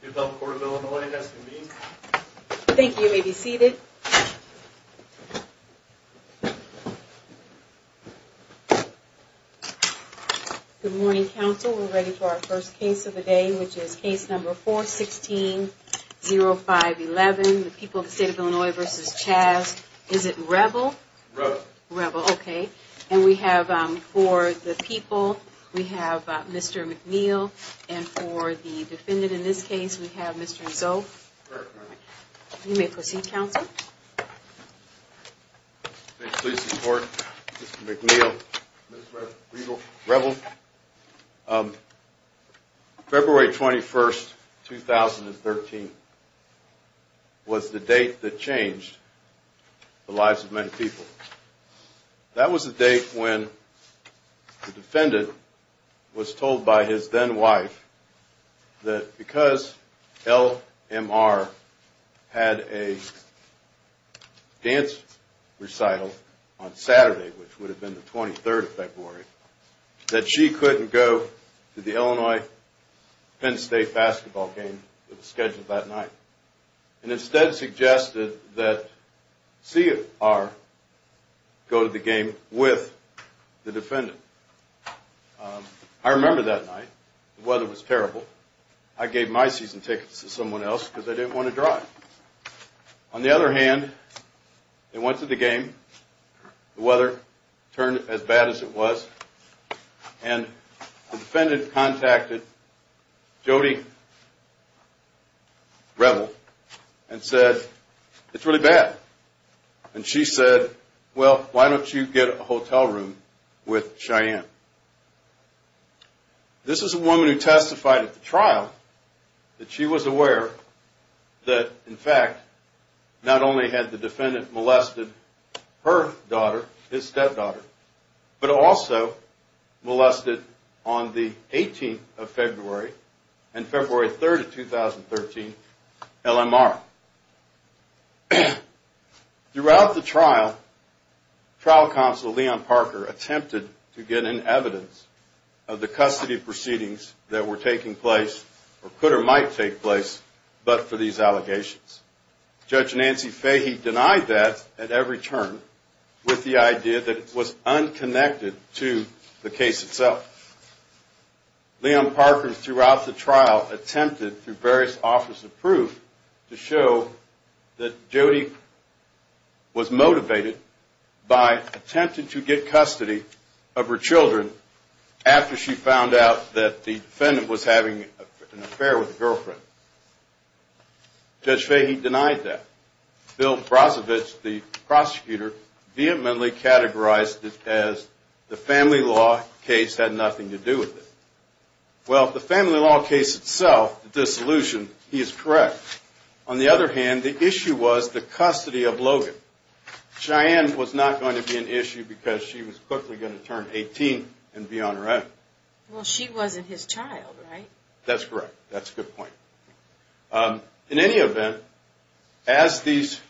The public court of Illinois has convened. Thank you. You may be seated. Good morning, counsel. We're ready for our first case of the day, which is case number 416-0511. The people of the state of Illinois versus Chavs. Is it Reavill? Reavill. Reavill, okay. And we have for the people, we have Mr. McNeil, and for the defendant in this case, we have Mr. Zolk. You may proceed, counsel. Please support Mr. McNeil, Ms. Reavill. Counsel, February 21st, 2013 was the date that changed the lives of many people. That was the date when the defendant was told by his then wife that because LMR had a dance recital on Saturday, which would have been the 23rd of February, that she couldn't go to the Illinois Penn State basketball game that was scheduled that night. And instead suggested that CR go to the game with the defendant. I remember that night. The weather was terrible. I gave my season tickets to someone else because I didn't want to drive. On the other hand, they went to the game. The weather turned as bad as it was. And the defendant contacted Jody Reavill and said, it's really bad. And she said, well, why don't you get a hotel room with Cheyenne? This is a woman who testified at the trial that she was aware that, in fact, not only had the defendant molested her daughter, his stepdaughter, but also molested on the 18th of February and February 3rd of 2013, LMR. Throughout the trial, trial counsel Leon Parker attempted to get in evidence of the custody proceedings that were taking place, or could or might take place, but for these allegations. Judge Nancy Fahey denied that at every turn with the idea that it was unconnected to the case itself. Leon Parker, throughout the trial, attempted through various offers of proof to show that Jody was motivated by attempting to get custody of her children after she found out that the defendant was having an affair with a girlfriend. Judge Fahey denied that. And in the end, Bill Brozovich, the prosecutor, vehemently categorized it as the family law case had nothing to do with it. Well, the family law case itself, the dissolution, he is correct. On the other hand, the issue was the custody of Logan. Cheyenne was not going to be an issue because she was quickly going to turn 18 and be on her own. Well, she wasn't his child, right? That's correct. That's a good point. In any event, as these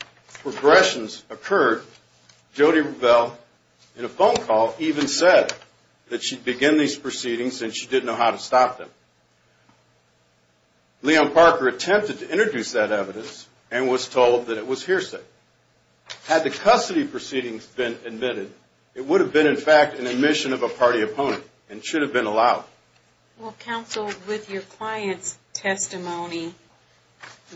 regressions occurred, Jody Revell, in a phone call, even said that she'd begin these proceedings and she didn't know how to stop them. Leon Parker attempted to introduce that evidence and was told that it was hearsay. Had the custody proceedings been admitted, it would have been, in fact, an admission of a party opponent and should have been allowed. Well, counsel, with your client's testimony,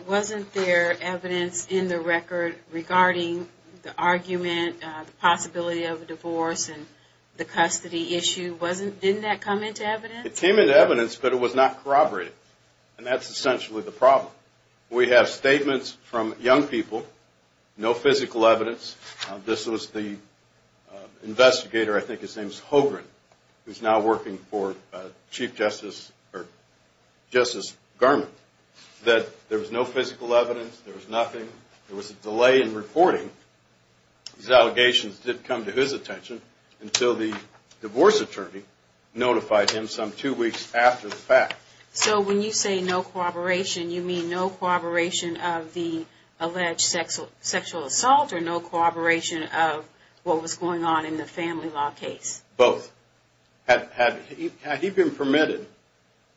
wasn't there evidence in the record regarding the argument, the possibility of a divorce, and the custody issue? Didn't that come into evidence? It came into evidence, but it was not corroborated. And that's essentially the problem. We have statements from young people, no physical evidence. This was the investigator, I think his name was Hogren, who's now working for Chief Justice Garment, that there was no physical evidence, there was nothing, there was a delay in reporting. These allegations didn't come to his attention until the divorce attorney notified him some two weeks after the fact. So when you say no corroboration, you mean no corroboration of the alleged sexual assault or no corroboration of what was going on in the family law case? Both. Had he been permitted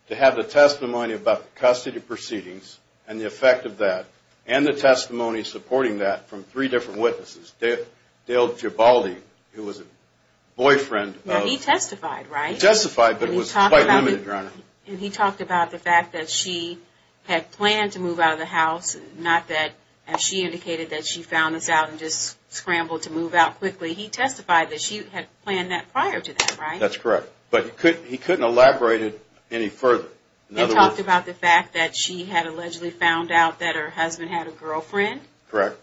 to have the testimony about the custody proceedings and the effect of that, and the testimony supporting that from three different witnesses, Dale Gibaldi, who was a boyfriend of... He talked about the fact that she had planned to move out of the house, not that she indicated that she found this out and just scrambled to move out quickly. He testified that she had planned that prior to that, right? That's correct. But he couldn't elaborate it any further. He talked about the fact that she had allegedly found out that her husband had a girlfriend? Correct.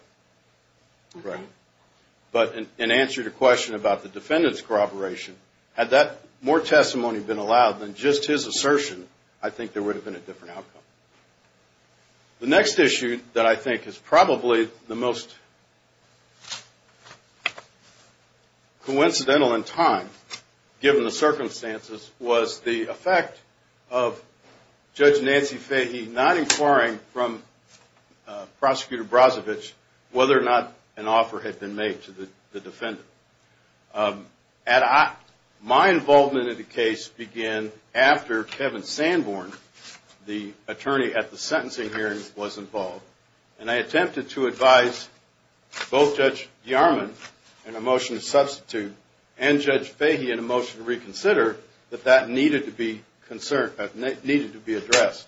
But in answer to the question about the defendant's corroboration, had that more testimony been allowed than just his assertion, I think there would have been a different outcome. The next issue that I think is probably the most coincidental in time, given the circumstances, was the effect of Judge Nancy Fahey not inquiring from Prosecutor Bromley about the fact that her husband had a girlfriend. And Judge Fahey did not inquire from Prosecutor Bromley whether or not an offer had been made to the defendant. My involvement in the case began after Kevin Sanborn, the attorney at the sentencing hearing, was involved. And I attempted to advise both Judge Yarman, in a motion to substitute, and Judge Fahey in a motion to reconsider, that that needed to be addressed.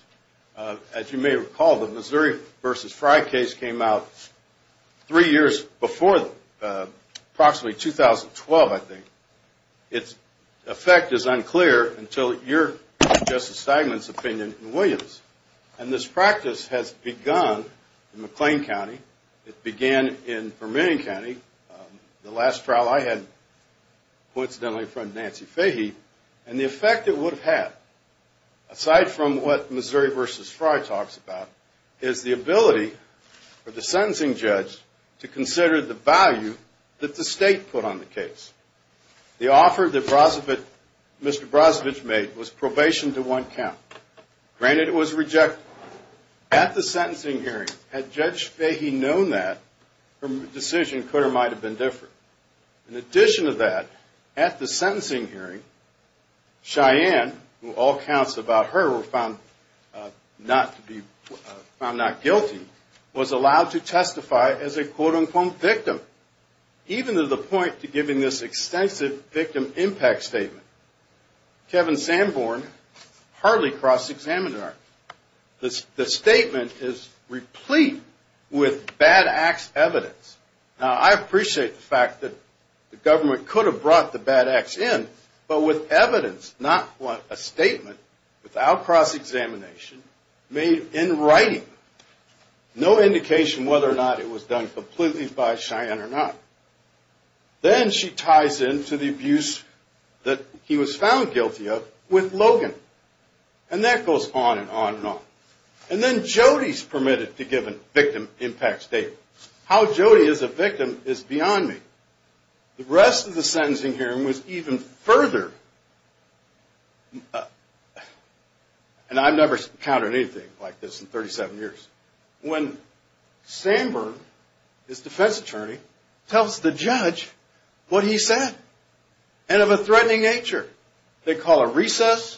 As you may recall, the Missouri v. Frye case came out three years before, approximately 2012, I think. Its effect is unclear until your, Justice Steinman's, opinion in Williams. And this practice has begun in McLean County. It began in Vermillion County. The last trial I had, coincidentally, from Nancy Fahey. And the effect it would have had. Aside from what Missouri v. Frye talks about, is the ability for the sentencing judge to consider the value that the state put on the case. The offer that Mr. Brozovich made was probation to one count. Granted, it was rejected. At the sentencing hearing, had Judge Fahey known that, her decision could or might have been different. In addition to that, at the sentencing hearing, Cheyenne, who all counts about her, were found not guilty, was allowed to testify as a quote-unquote, victim. Even to the point to giving this extensive victim impact statement. Kevin Sanborn hardly crossed the examiner. The statement is replete with bad acts evidence. Now, I appreciate the fact that the government could have brought the bad acts in, but with evidence. Not a statement, without cross-examination, made in writing. No indication whether or not it was done completely by Cheyenne or not. Then she ties in to the abuse that he was found guilty of, with Logan. And that goes on and on and on. And then Jody's permitted to give a victim impact statement. How Jody is a victim is beyond me. The rest of the sentencing hearing was even further. And I've never encountered anything like this in 37 years. When Sanborn, his defense attorney, tells the judge what he said, and of a threatening nature. They call a recess.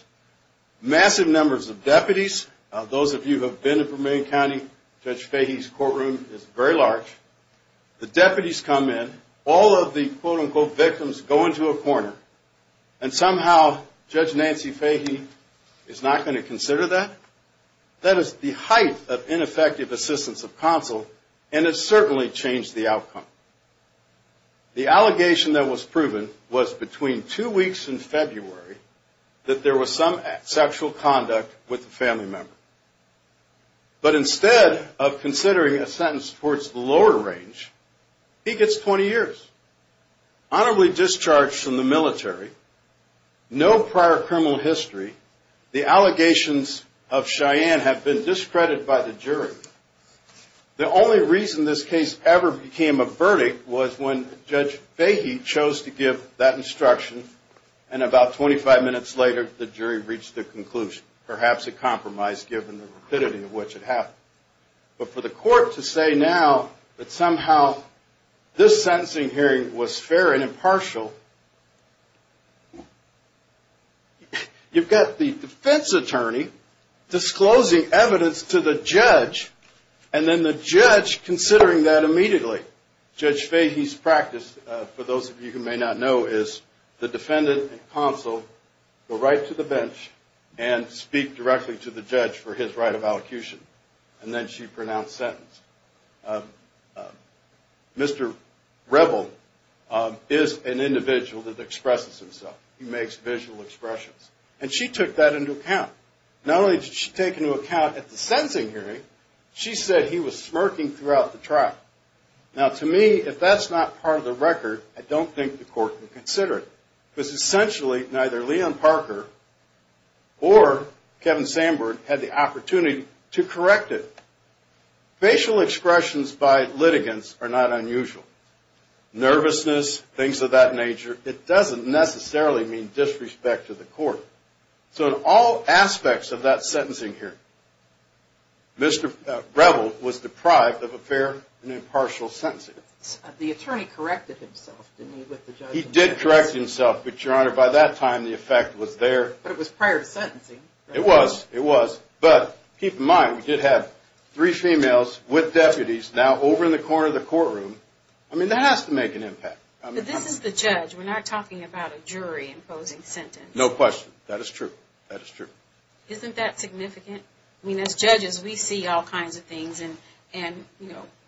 Massive numbers of deputies. Those of you who have been in Vermillion County, Judge Fahey's courtroom is very large. The deputies come in. All of the quote-unquote victims go into a corner. And somehow, Judge Nancy Fahey is not going to consider that. That is the height of ineffective assistance of counsel, and it certainly changed the outcome. The allegation that was proven was between two weeks in February, that there was some sexual conduct with a family member. But instead of considering a sentence towards the lower range, he gets 20 years. Honorably discharged from the military. No prior criminal history. The allegations of Cheyenne have been discredited by the jury. The only reason this case ever became a verdict was when Judge Fahey chose to give that instruction. And about 25 minutes later, the jury reached their conclusion. Perhaps a compromise given the rapidity of which it happened. But for the court to say now that somehow this sentencing hearing was fair and impartial, you've got the defense attorney disclosing evidence to the judge, and then the judge considering that immediately. Judge Fahey's practice, for those of you who may not know, is the defendant and counsel go right to the bench and speak directly to the judge for his right of allocution. And then she pronounced sentence. Mr. Rebel is an individual that expresses himself. He makes visual expressions. And she took that into account. Not only did she take into account at the sentencing hearing, she said he was smirking throughout the trial. Now to me, if that's not part of the record, I don't think the court can consider it. Facial expressions by litigants are not unusual. Nervousness, things of that nature, it doesn't necessarily mean disrespect to the court. So in all aspects of that sentencing hearing, Mr. Rebel was deprived of a fair and impartial sentencing. He did correct himself, but your honor, by that time the effect was there. But it was prior to sentencing. It was, it was. But keep in mind, we did have three females with deputies now over in the corner of the courtroom. I mean, that has to make an impact. But this is the judge. We're not talking about a jury imposing sentence. No question. That is true. Isn't that significant? I mean, as judges, we see all kinds of things and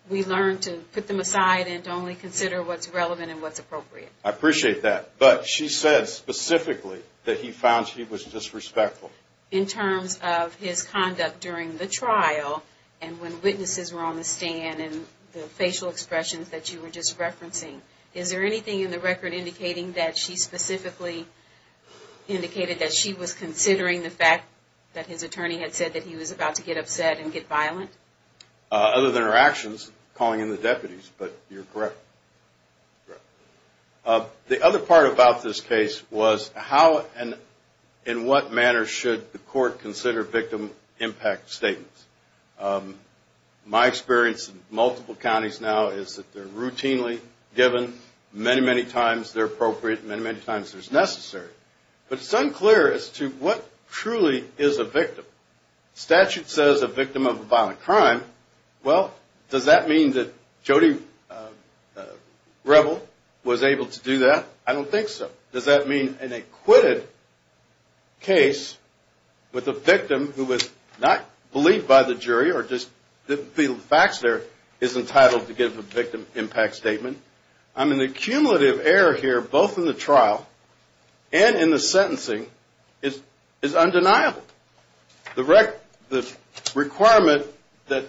we learn to put them aside and only consider what's relevant and what's appropriate. I appreciate that. But she said specifically that he found she was disrespectful. In terms of his conduct during the trial and when witnesses were on the stand and the facial expressions that you were just referencing. Is there anything in the record indicating that she specifically indicated that she was considering the fact that his attorney had said that he was about to get upset and get violent? Other than her actions, calling in the deputies, but you're correct. The other part about this case was how and in what manner should the court consider victim impact statements. My experience in multiple counties now is that they're routinely given. Many, many times they're appropriate. Many, many times there's necessary. But it's unclear as to what truly is a victim. Statute says a victim of a violent crime. Well, does that mean that Jody Rebel was able to do that? I don't think so. Does that mean an acquitted case with a victim who was not believed by the jury or just the facts there is entitled to give a victim impact statement? I mean, the cumulative error here, both in the trial and in the sentencing, is undeniable. The requirement that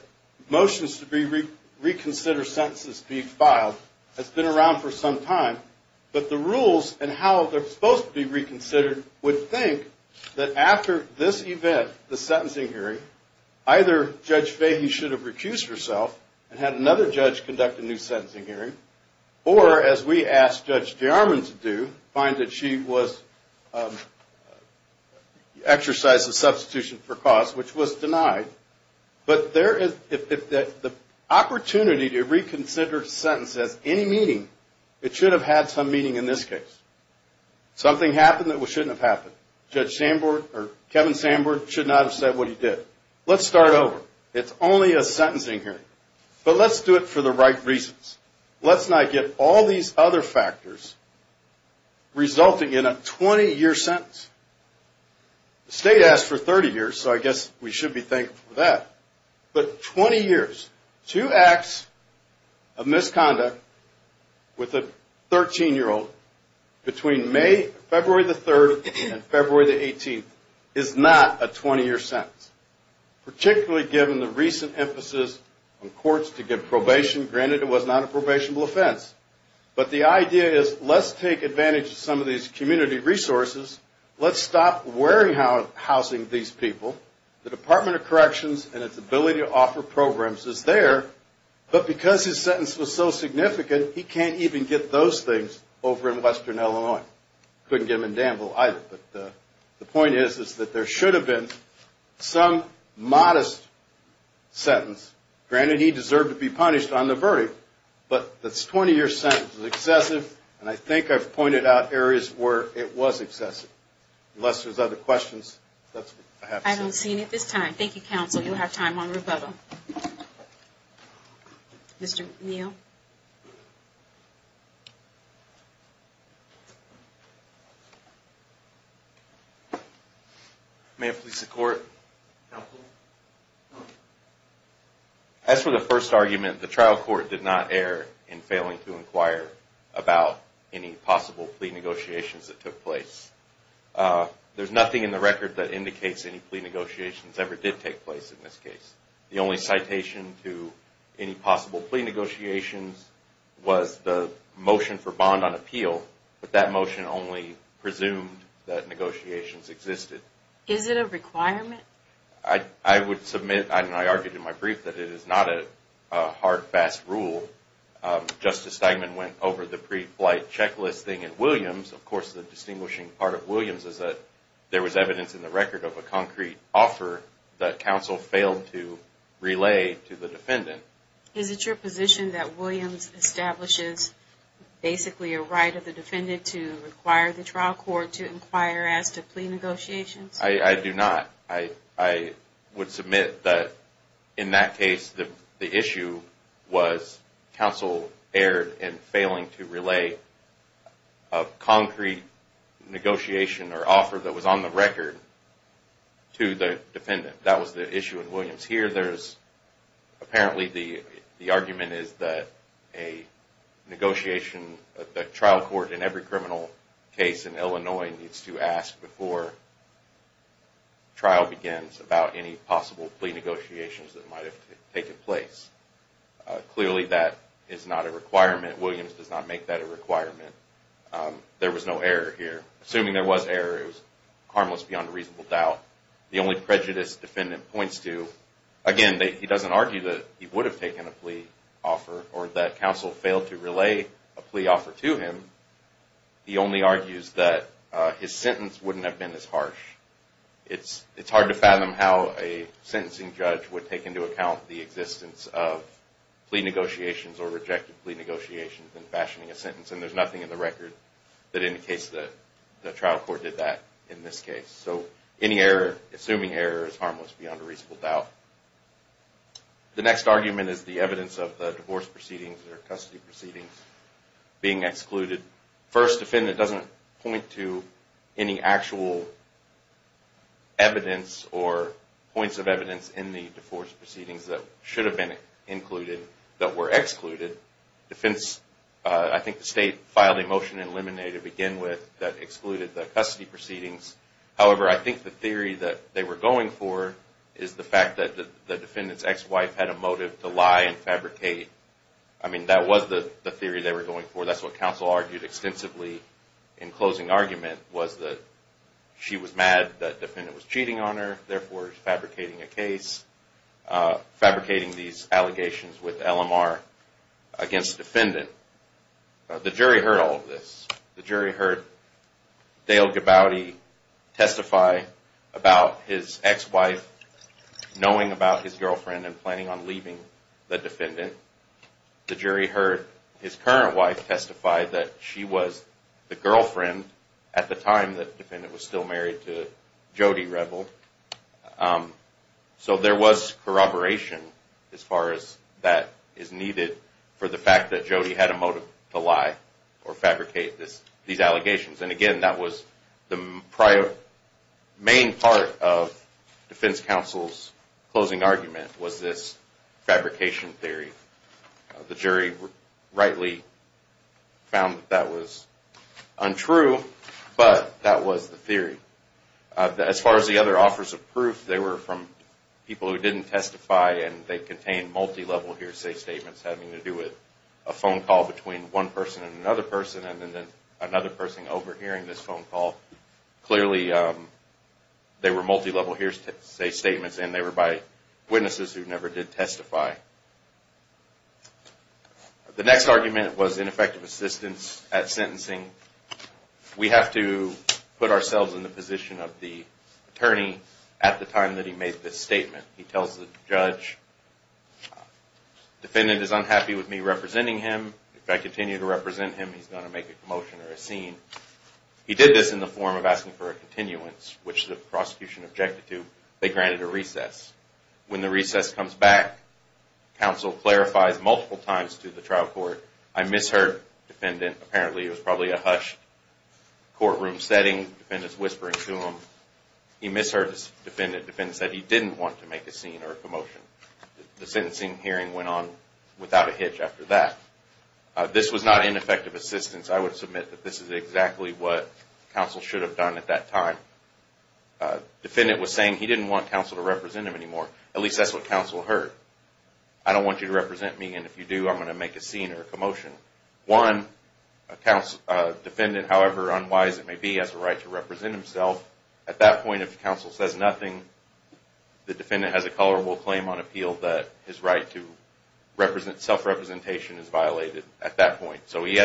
motions to reconsider sentences be filed has been around for some time. But the rules and how they're supposed to be reconsidered would think that after this event, the sentencing hearing, either Judge Fahey should have recused herself and had another judge conduct a new sentencing hearing, or as we asked Judge Jarman to do, find that she was exercised a substitution for cause, which was denied. But if the opportunity to reconsider a sentence has any meaning, it should have had some meaning in this case. Something happened that shouldn't have happened. Kevin Sanborn should not have said what he did. Let's start over. It's only a sentencing hearing. But let's do it for the right reasons. Let's not get all these other factors resulting in a 20-year sentence. The state asked for 30 years, so I guess we should be thankful for that. But 20 years, two acts of misconduct with a 13-year-old between May, February the 3rd, and February the 18th, is not a 20-year sentence, particularly given the recent emphasis on courts to give probation. Granted, it was not a probationable offense, but the idea is let's take advantage of some of these community resources. Let's stop warehousing these people. The Department of Corrections and its ability to offer programs is there, but because his sentence was so significant, he can't even get those things over in western Illinois. Couldn't get them in Danville either, but the point is that there should have been some modest sentence. Granted, he deserved to be punished on the verdict, but this 20-year sentence is excessive, and I think I've pointed out areas where it was excessive. Unless there's other questions, that's what I have to say. I don't see any at this time. Thank you, counsel. You'll have time on rebuttal. Mr. Neal? May it please the Court, Counsel? As for the first argument, the trial court did not err in failing to inquire about any possible plea negotiations that took place. There's nothing in the record that indicates any plea negotiations ever did take place in this case. The only citation to any possible plea negotiations was the motion for bond on appeal, but that motion only presumed that negotiations existed. Is it a requirement? I would submit, and I argued in my brief, that it is not a hard, fast rule. Justice Steinman went over the pre-flight checklist thing in Williams. Of course, the distinguishing part of Williams is that there was evidence in the record of a concrete offer that counsel failed to relay to the defendant. Is it your position that Williams establishes basically a right of the defendant to require the trial court to inquire as to plea negotiations? I do not. I would submit that in that case, the issue was counsel erred in failing to relay a concrete negotiation or offer that was on the record to the defendant. That was the issue in Williams. Here, apparently, the argument is that the trial court in every criminal case in Illinois needs to ask before trial begins about any possible plea negotiations that might have taken place. Clearly, that is not a requirement. Williams does not make that a requirement. There was no error here. Assuming there was error, it was harmless beyond a reasonable doubt. The only prejudice the defendant points to, again, he does not argue that he would have taken a plea offer or that counsel failed to relay a plea offer to him. He only argues that his sentence would not have been as harsh. It is hard to fathom how a sentencing judge would take into account the existence of plea negotiations or rejected plea negotiations in fashioning a sentence. There is nothing in the record that indicates that the trial court did that in this case. Assuming error is harmless beyond a reasonable doubt. The next argument is the evidence of the divorce proceedings or custody proceedings being excluded. First, the defendant does not point to any actual evidence or points of evidence in the divorce proceedings that should have been included that were excluded. I think the state filed a motion in limine to begin with that excluded the custody proceedings. However, I think the theory that they were going for is the fact that the defendant's ex-wife had a motive to lie and fabricate. That was the theory they were going for. That is what counsel argued extensively in closing argument. She was mad that the defendant was cheating on her, therefore fabricating a case. Fabricating these allegations with LMR against the defendant. The jury heard all of this. The jury heard Dale Gabaudi testify about his ex-wife knowing about his girlfriend and planning on leaving the defendant. The jury heard his current wife testify that she was the girlfriend at the time that the defendant was still married to Jody Rebel. So there was corroboration as far as that is needed for the fact that Jody had a motive to lie or fabricate these allegations. Again, that was the main part of defense counsel's closing argument was this fabrication theory. The jury rightly found that was untrue, but that was the theory. As far as the other offers of proof, they were from people who didn't testify and they contained multilevel hearsay statements having to do with a phone call between one person and another person and then another person overhearing this phone call. Clearly, they were multilevel hearsay statements and they were by witnesses who never did testify. The next argument was ineffective assistance at sentencing. We have to put ourselves in the position of the attorney at the time that he made this statement. He tells the judge, the defendant is unhappy with me representing him. If I continue to represent him, he's going to make a commotion or a scene. He did this in the form of asking for a continuance, which the prosecution objected to. They granted a recess. When the recess comes back, counsel clarifies multiple times to the trial court, I misheard the defendant. Apparently it was probably a hushed courtroom setting. The defendant said he didn't want to make a scene or a commotion. The sentencing hearing went on without a hitch after that. This was not ineffective assistance. I would submit that this is exactly what counsel should have done at that time. The defendant was saying he didn't want counsel to represent him anymore. At least that's what counsel heard. I don't want you to represent me and if you do, I'm going to make a scene or a commotion. One, a defendant, however unwise it may be, has a right to represent himself. At that point, if counsel says nothing, the defendant has a colorable claim on appeal that his right to self-representation is violated. He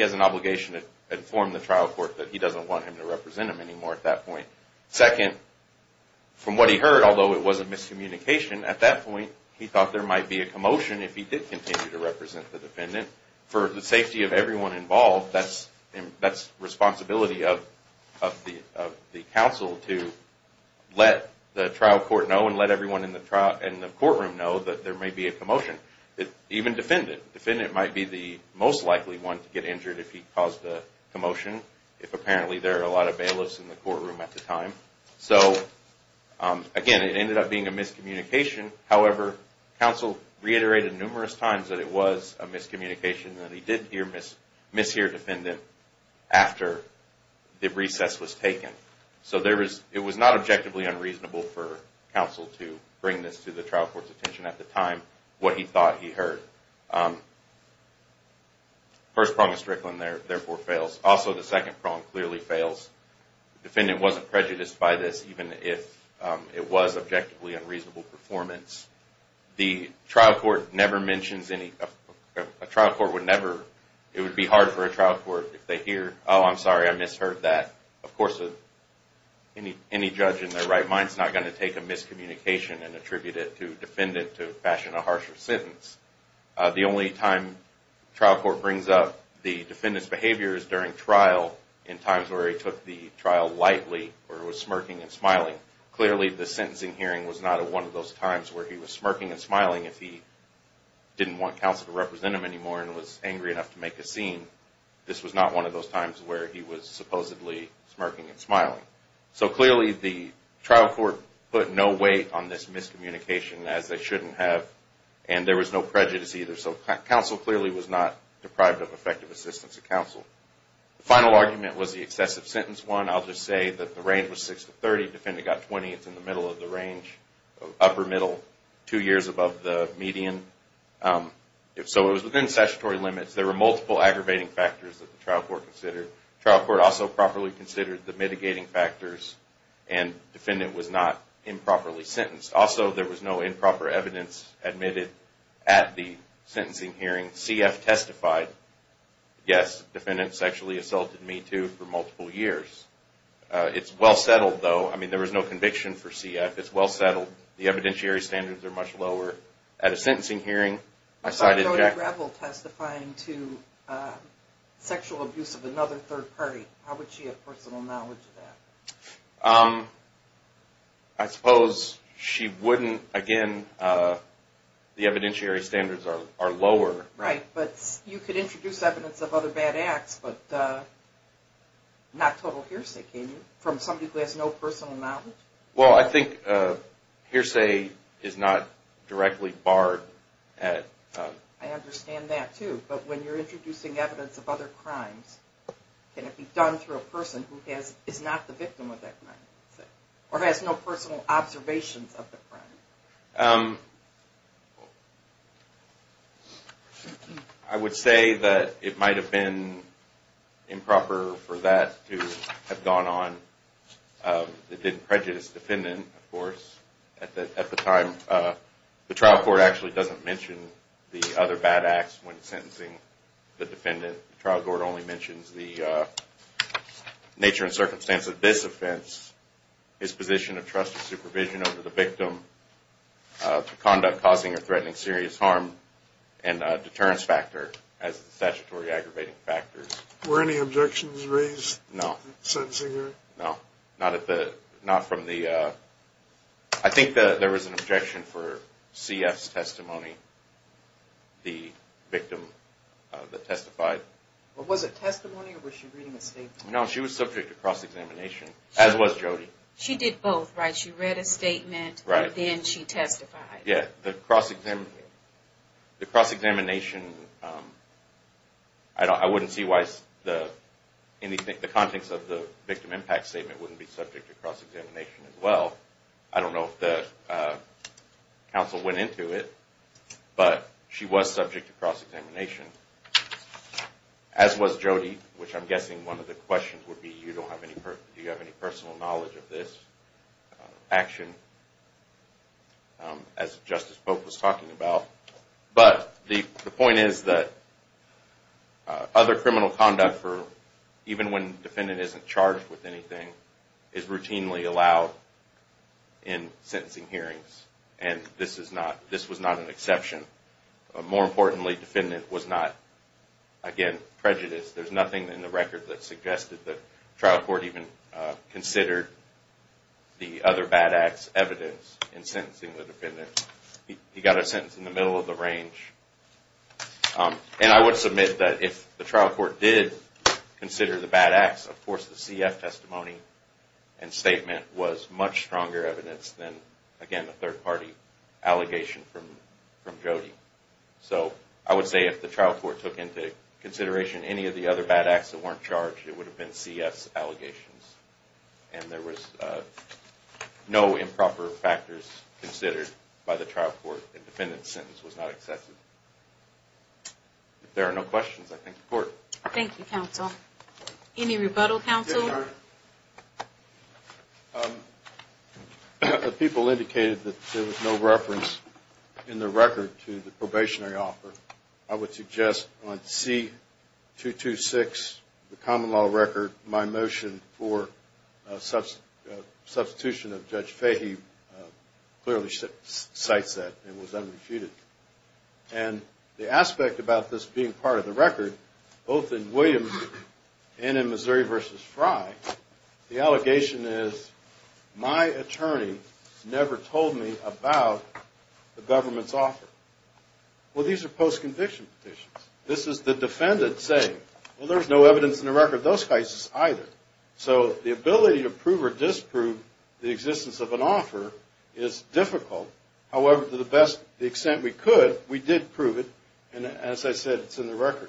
has an obligation to inform the trial court that he doesn't want him to represent him anymore at that point. Second, from what he heard, although it was a miscommunication, at that point he thought there might be a commotion if he did continue to represent the defendant. For the safety of everyone involved, that's the responsibility of the counsel to let the trial court know and let everyone in the courtroom know that there may be a commotion. Even the defendant. The defendant might be the most likely one to get injured if he caused a commotion. If apparently there are a lot of bailiffs in the courtroom at the time. Again, it ended up being a miscommunication. However, counsel reiterated numerous times that it was a miscommunication. That he did mishear the defendant after the recess was taken. It was not objectively unreasonable for counsel to bring this to the trial court's attention at the time. What he thought he heard. The first prong of Strickland therefore fails. Also, the second prong clearly fails. The defendant wasn't prejudiced by this even if it was objectively unreasonable performance. The trial court never mentions any...a trial court would never...it would be hard for a trial court if they hear, oh, I'm sorry, I misheard that. Of course, any judge in their right mind is not going to take a miscommunication and attribute it to a defendant to fashion a harsher sentence. The only time trial court brings up the defendant's behavior is during trial in times where he took the trial lightly or was smirking and smiling. Clearly, the sentencing hearing was not one of those times where he was smirking and smiling if he didn't want counsel to represent him anymore and was angry enough to make a scene. This was not one of those times where he was supposedly smirking and smiling. Clearly, the trial court put no weight on this miscommunication as they shouldn't have. There was no prejudice either. Counsel clearly was not deprived of effective assistance of counsel. The final argument was the excessive sentence one. I'll just say that the range was 6 to 30. Defendant got 20. It's in the middle of the range, upper middle, two years above the median. It was within statutory limits. There were multiple aggravating factors that the trial court considered. Trial court also properly considered the mitigating factors and defendant was not improperly sentenced. Also, there was no improper evidence admitted at the sentencing hearing. CF testified, yes, defendant sexually assaulted me too for multiple years. It's well settled though. I mean, there was no conviction for CF. It's well settled. The evidentiary standards are much lower. At a sentencing hearing, I cited... I suppose she wouldn't, again, the evidentiary standards are lower. Right, but you could introduce evidence of other bad acts, but not total hearsay, can you? From somebody who has no personal knowledge? Well, I think hearsay is not directly barred. I understand that too, but when you're introducing evidence of other crimes, can it be done through a person who is not the victim of that crime? Or has no personal observations of the crime? I would say that it might have been improper for that to have gone on. It didn't prejudice the defendant, of course, at the time. The trial court actually doesn't mention the other bad acts when sentencing the defendant. The trial court only mentions the nature and circumstance of this offense, his position of trust and supervision over the victim, conduct causing or threatening serious harm, and a deterrence factor as a statutory aggravating factor. Were any objections raised at the sentencing hearing? No. I think there was an objection for CF's testimony. The victim that testified. Was it testimony or was she reading a statement? No, she was subject to cross-examination, as was Jody. She did both, right? She read a statement and then she testified. The cross-examination, I wouldn't see why the context of the victim impact statement wouldn't be subject to cross-examination as well. I don't know if the counsel went into it, but she was subject to cross-examination. As was Jody, which I'm guessing one of the questions would be, do you have any personal knowledge of this action? But the point is that other criminal conduct, even when the defendant isn't charged with anything, is routinely allowed in and is not, again, prejudiced. There's nothing in the record that suggested the trial court even considered the other bad acts evidence in sentencing the defendant. He got a sentence in the middle of the range. And I would submit that if the trial court did consider the bad acts, of course the CF testimony and statement was much stronger evidence than, again, a third-party allegation from Jody. So I would say if the trial court took into consideration any of the other bad acts that weren't charged, it would have been CF allegations. And there was no improper factors considered by the trial court. The defendant's sentence was not accepted. If there are no questions, I thank the Court. Thank you, Counsel. Any rebuttal, Counsel? The people indicated that there was no reference in the record to the probationary offer. I would suggest on C-226, the common law record, my motion for substitution of Judge Fahey clearly cites that and was unrefuted. And the aspect about this being part of the record, both in Williams and in Missouri v. Frye, the allegation is my attorney never told me about the government's offer. Well, these are post-conviction petitions. This is the defendant saying, well, there's no evidence in the record of those cases either. So the ability to prove or disprove the existence of an offer is difficult. However, to the best extent we could, we did prove it. And as I said, it's in the record.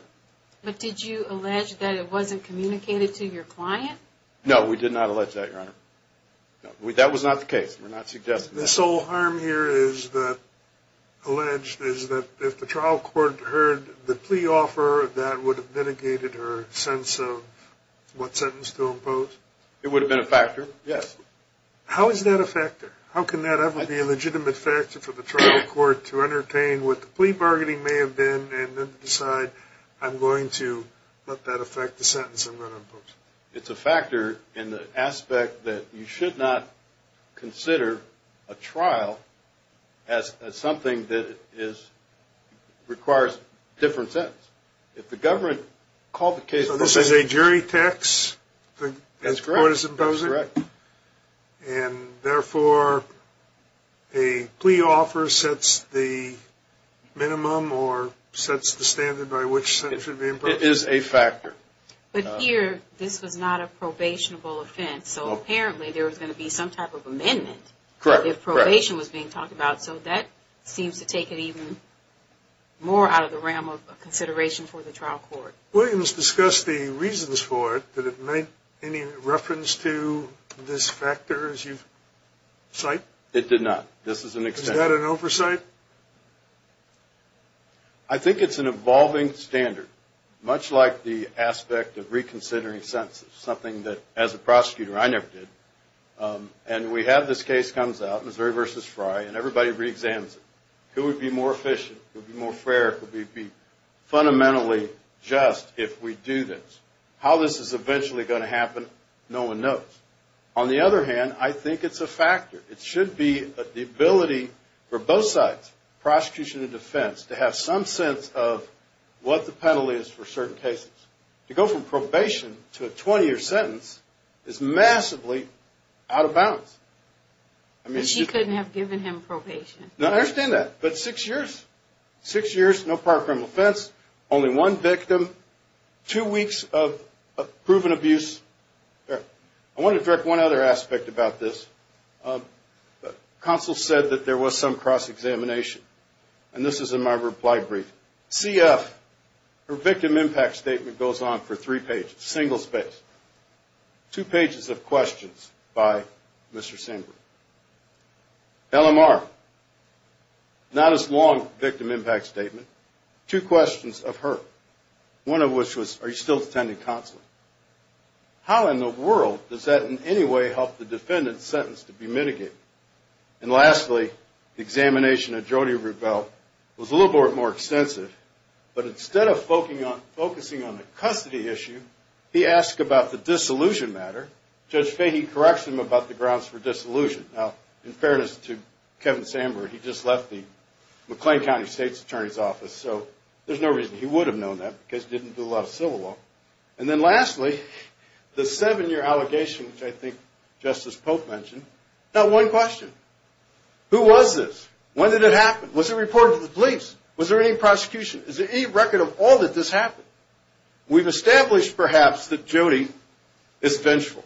But did you allege that it wasn't communicated to your client? No, we did not allege that, Your Honor. That was not the case. We're not suggesting that. The sole harm here is that, alleged, is that if the trial court heard the plea offer, that would have mitigated her sense of what sentence to impose? It would have been a factor, yes. How is that a factor? How can that ever be a legitimate factor for the trial court to entertain what the plea bargaining may have been and then decide, I'm going to let that affect the sentence I'm going to impose? It's a factor in the aspect that you should not consider a trial as something that requires a different sentence. If the government called the case... So this is a jury tax the court is imposing? That's correct. And therefore, a plea offer sets the minimum or sets the standard by which a sentence should be imposed? It is a factor. But here, this was not a probationable offense, so apparently there was going to be some type of amendment if probation was being talked about. So that seems to take it even more out of the realm of consideration for the trial court. Williams discussed the reasons for it. Did it make any reference to this factor as you cite? It did not. I think it's an evolving standard, much like the aspect of reconsidering sentences, something that as a prosecutor I never did. And we have this case comes out, Missouri v. Frye, and everybody reexamines it. Who would be more efficient? Who would be more fair? Who would be fundamentally just if we do this? How this is eventually going to happen, no one knows. On the other hand, I think it's a factor. It should be the ability for both sides, prosecution and defense, to have some sense of what the penalty is for certain cases. To go from probation to a 20-year sentence is massively out of bounds. He couldn't have given him probation. No, I understand that, but six years. Six years, no prior criminal offense, only one victim, two weeks of proven abuse. I want to direct one other aspect about this. Counsel said that there was some cross-examination, and this is in my reply brief. CF, her victim impact statement goes on for three pages, single-spaced. Two pages of questions by Mr. Sandberg. LMR, not as long victim impact statement, two questions of her. One of which was, are you still attending counseling? How in the world does that in any way help the defendant's sentence to be mitigated? And lastly, the examination of Jody Rubell was a little bit more extensive, but instead of focusing on the custody issue, he asked about the disillusion matter. Judge Fahey corrects him about the grounds for disillusion. Now, in fairness to Kevin Sandberg, he just left the McLean County State's Attorney's Office, so there's no reason he would have known that because he didn't do a lot of civil law. And then lastly, the seven-year allegation, which I think Justice Pope mentioned. Now, one question. Who was this? When did it happen? Was it reported to the police? Was there any prosecution? Is there any record of all that this happened? We've established, perhaps, that Jody is vengeful.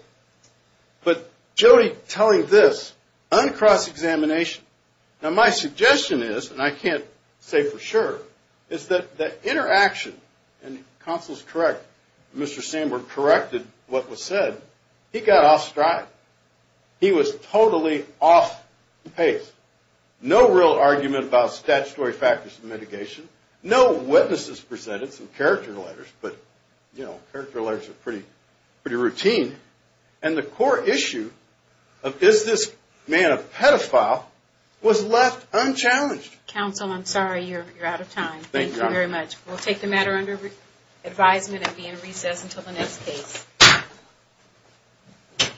But Jody telling this on cross-examination. Now, my suggestion is, and I can't say for sure, is that the interaction, and counsel's correct, Mr. Sandberg corrected what was said. He got off strike. He was totally off pace. No real argument about statutory factors of mitigation. No witnesses presented, some character letters, but character letters are pretty routine. And the core issue of, is this man a pedophile, was left unchallenged. Counsel, I'm sorry. You're out of time. Thank you very much. We'll take the matter under advisement and be in recess until the next case.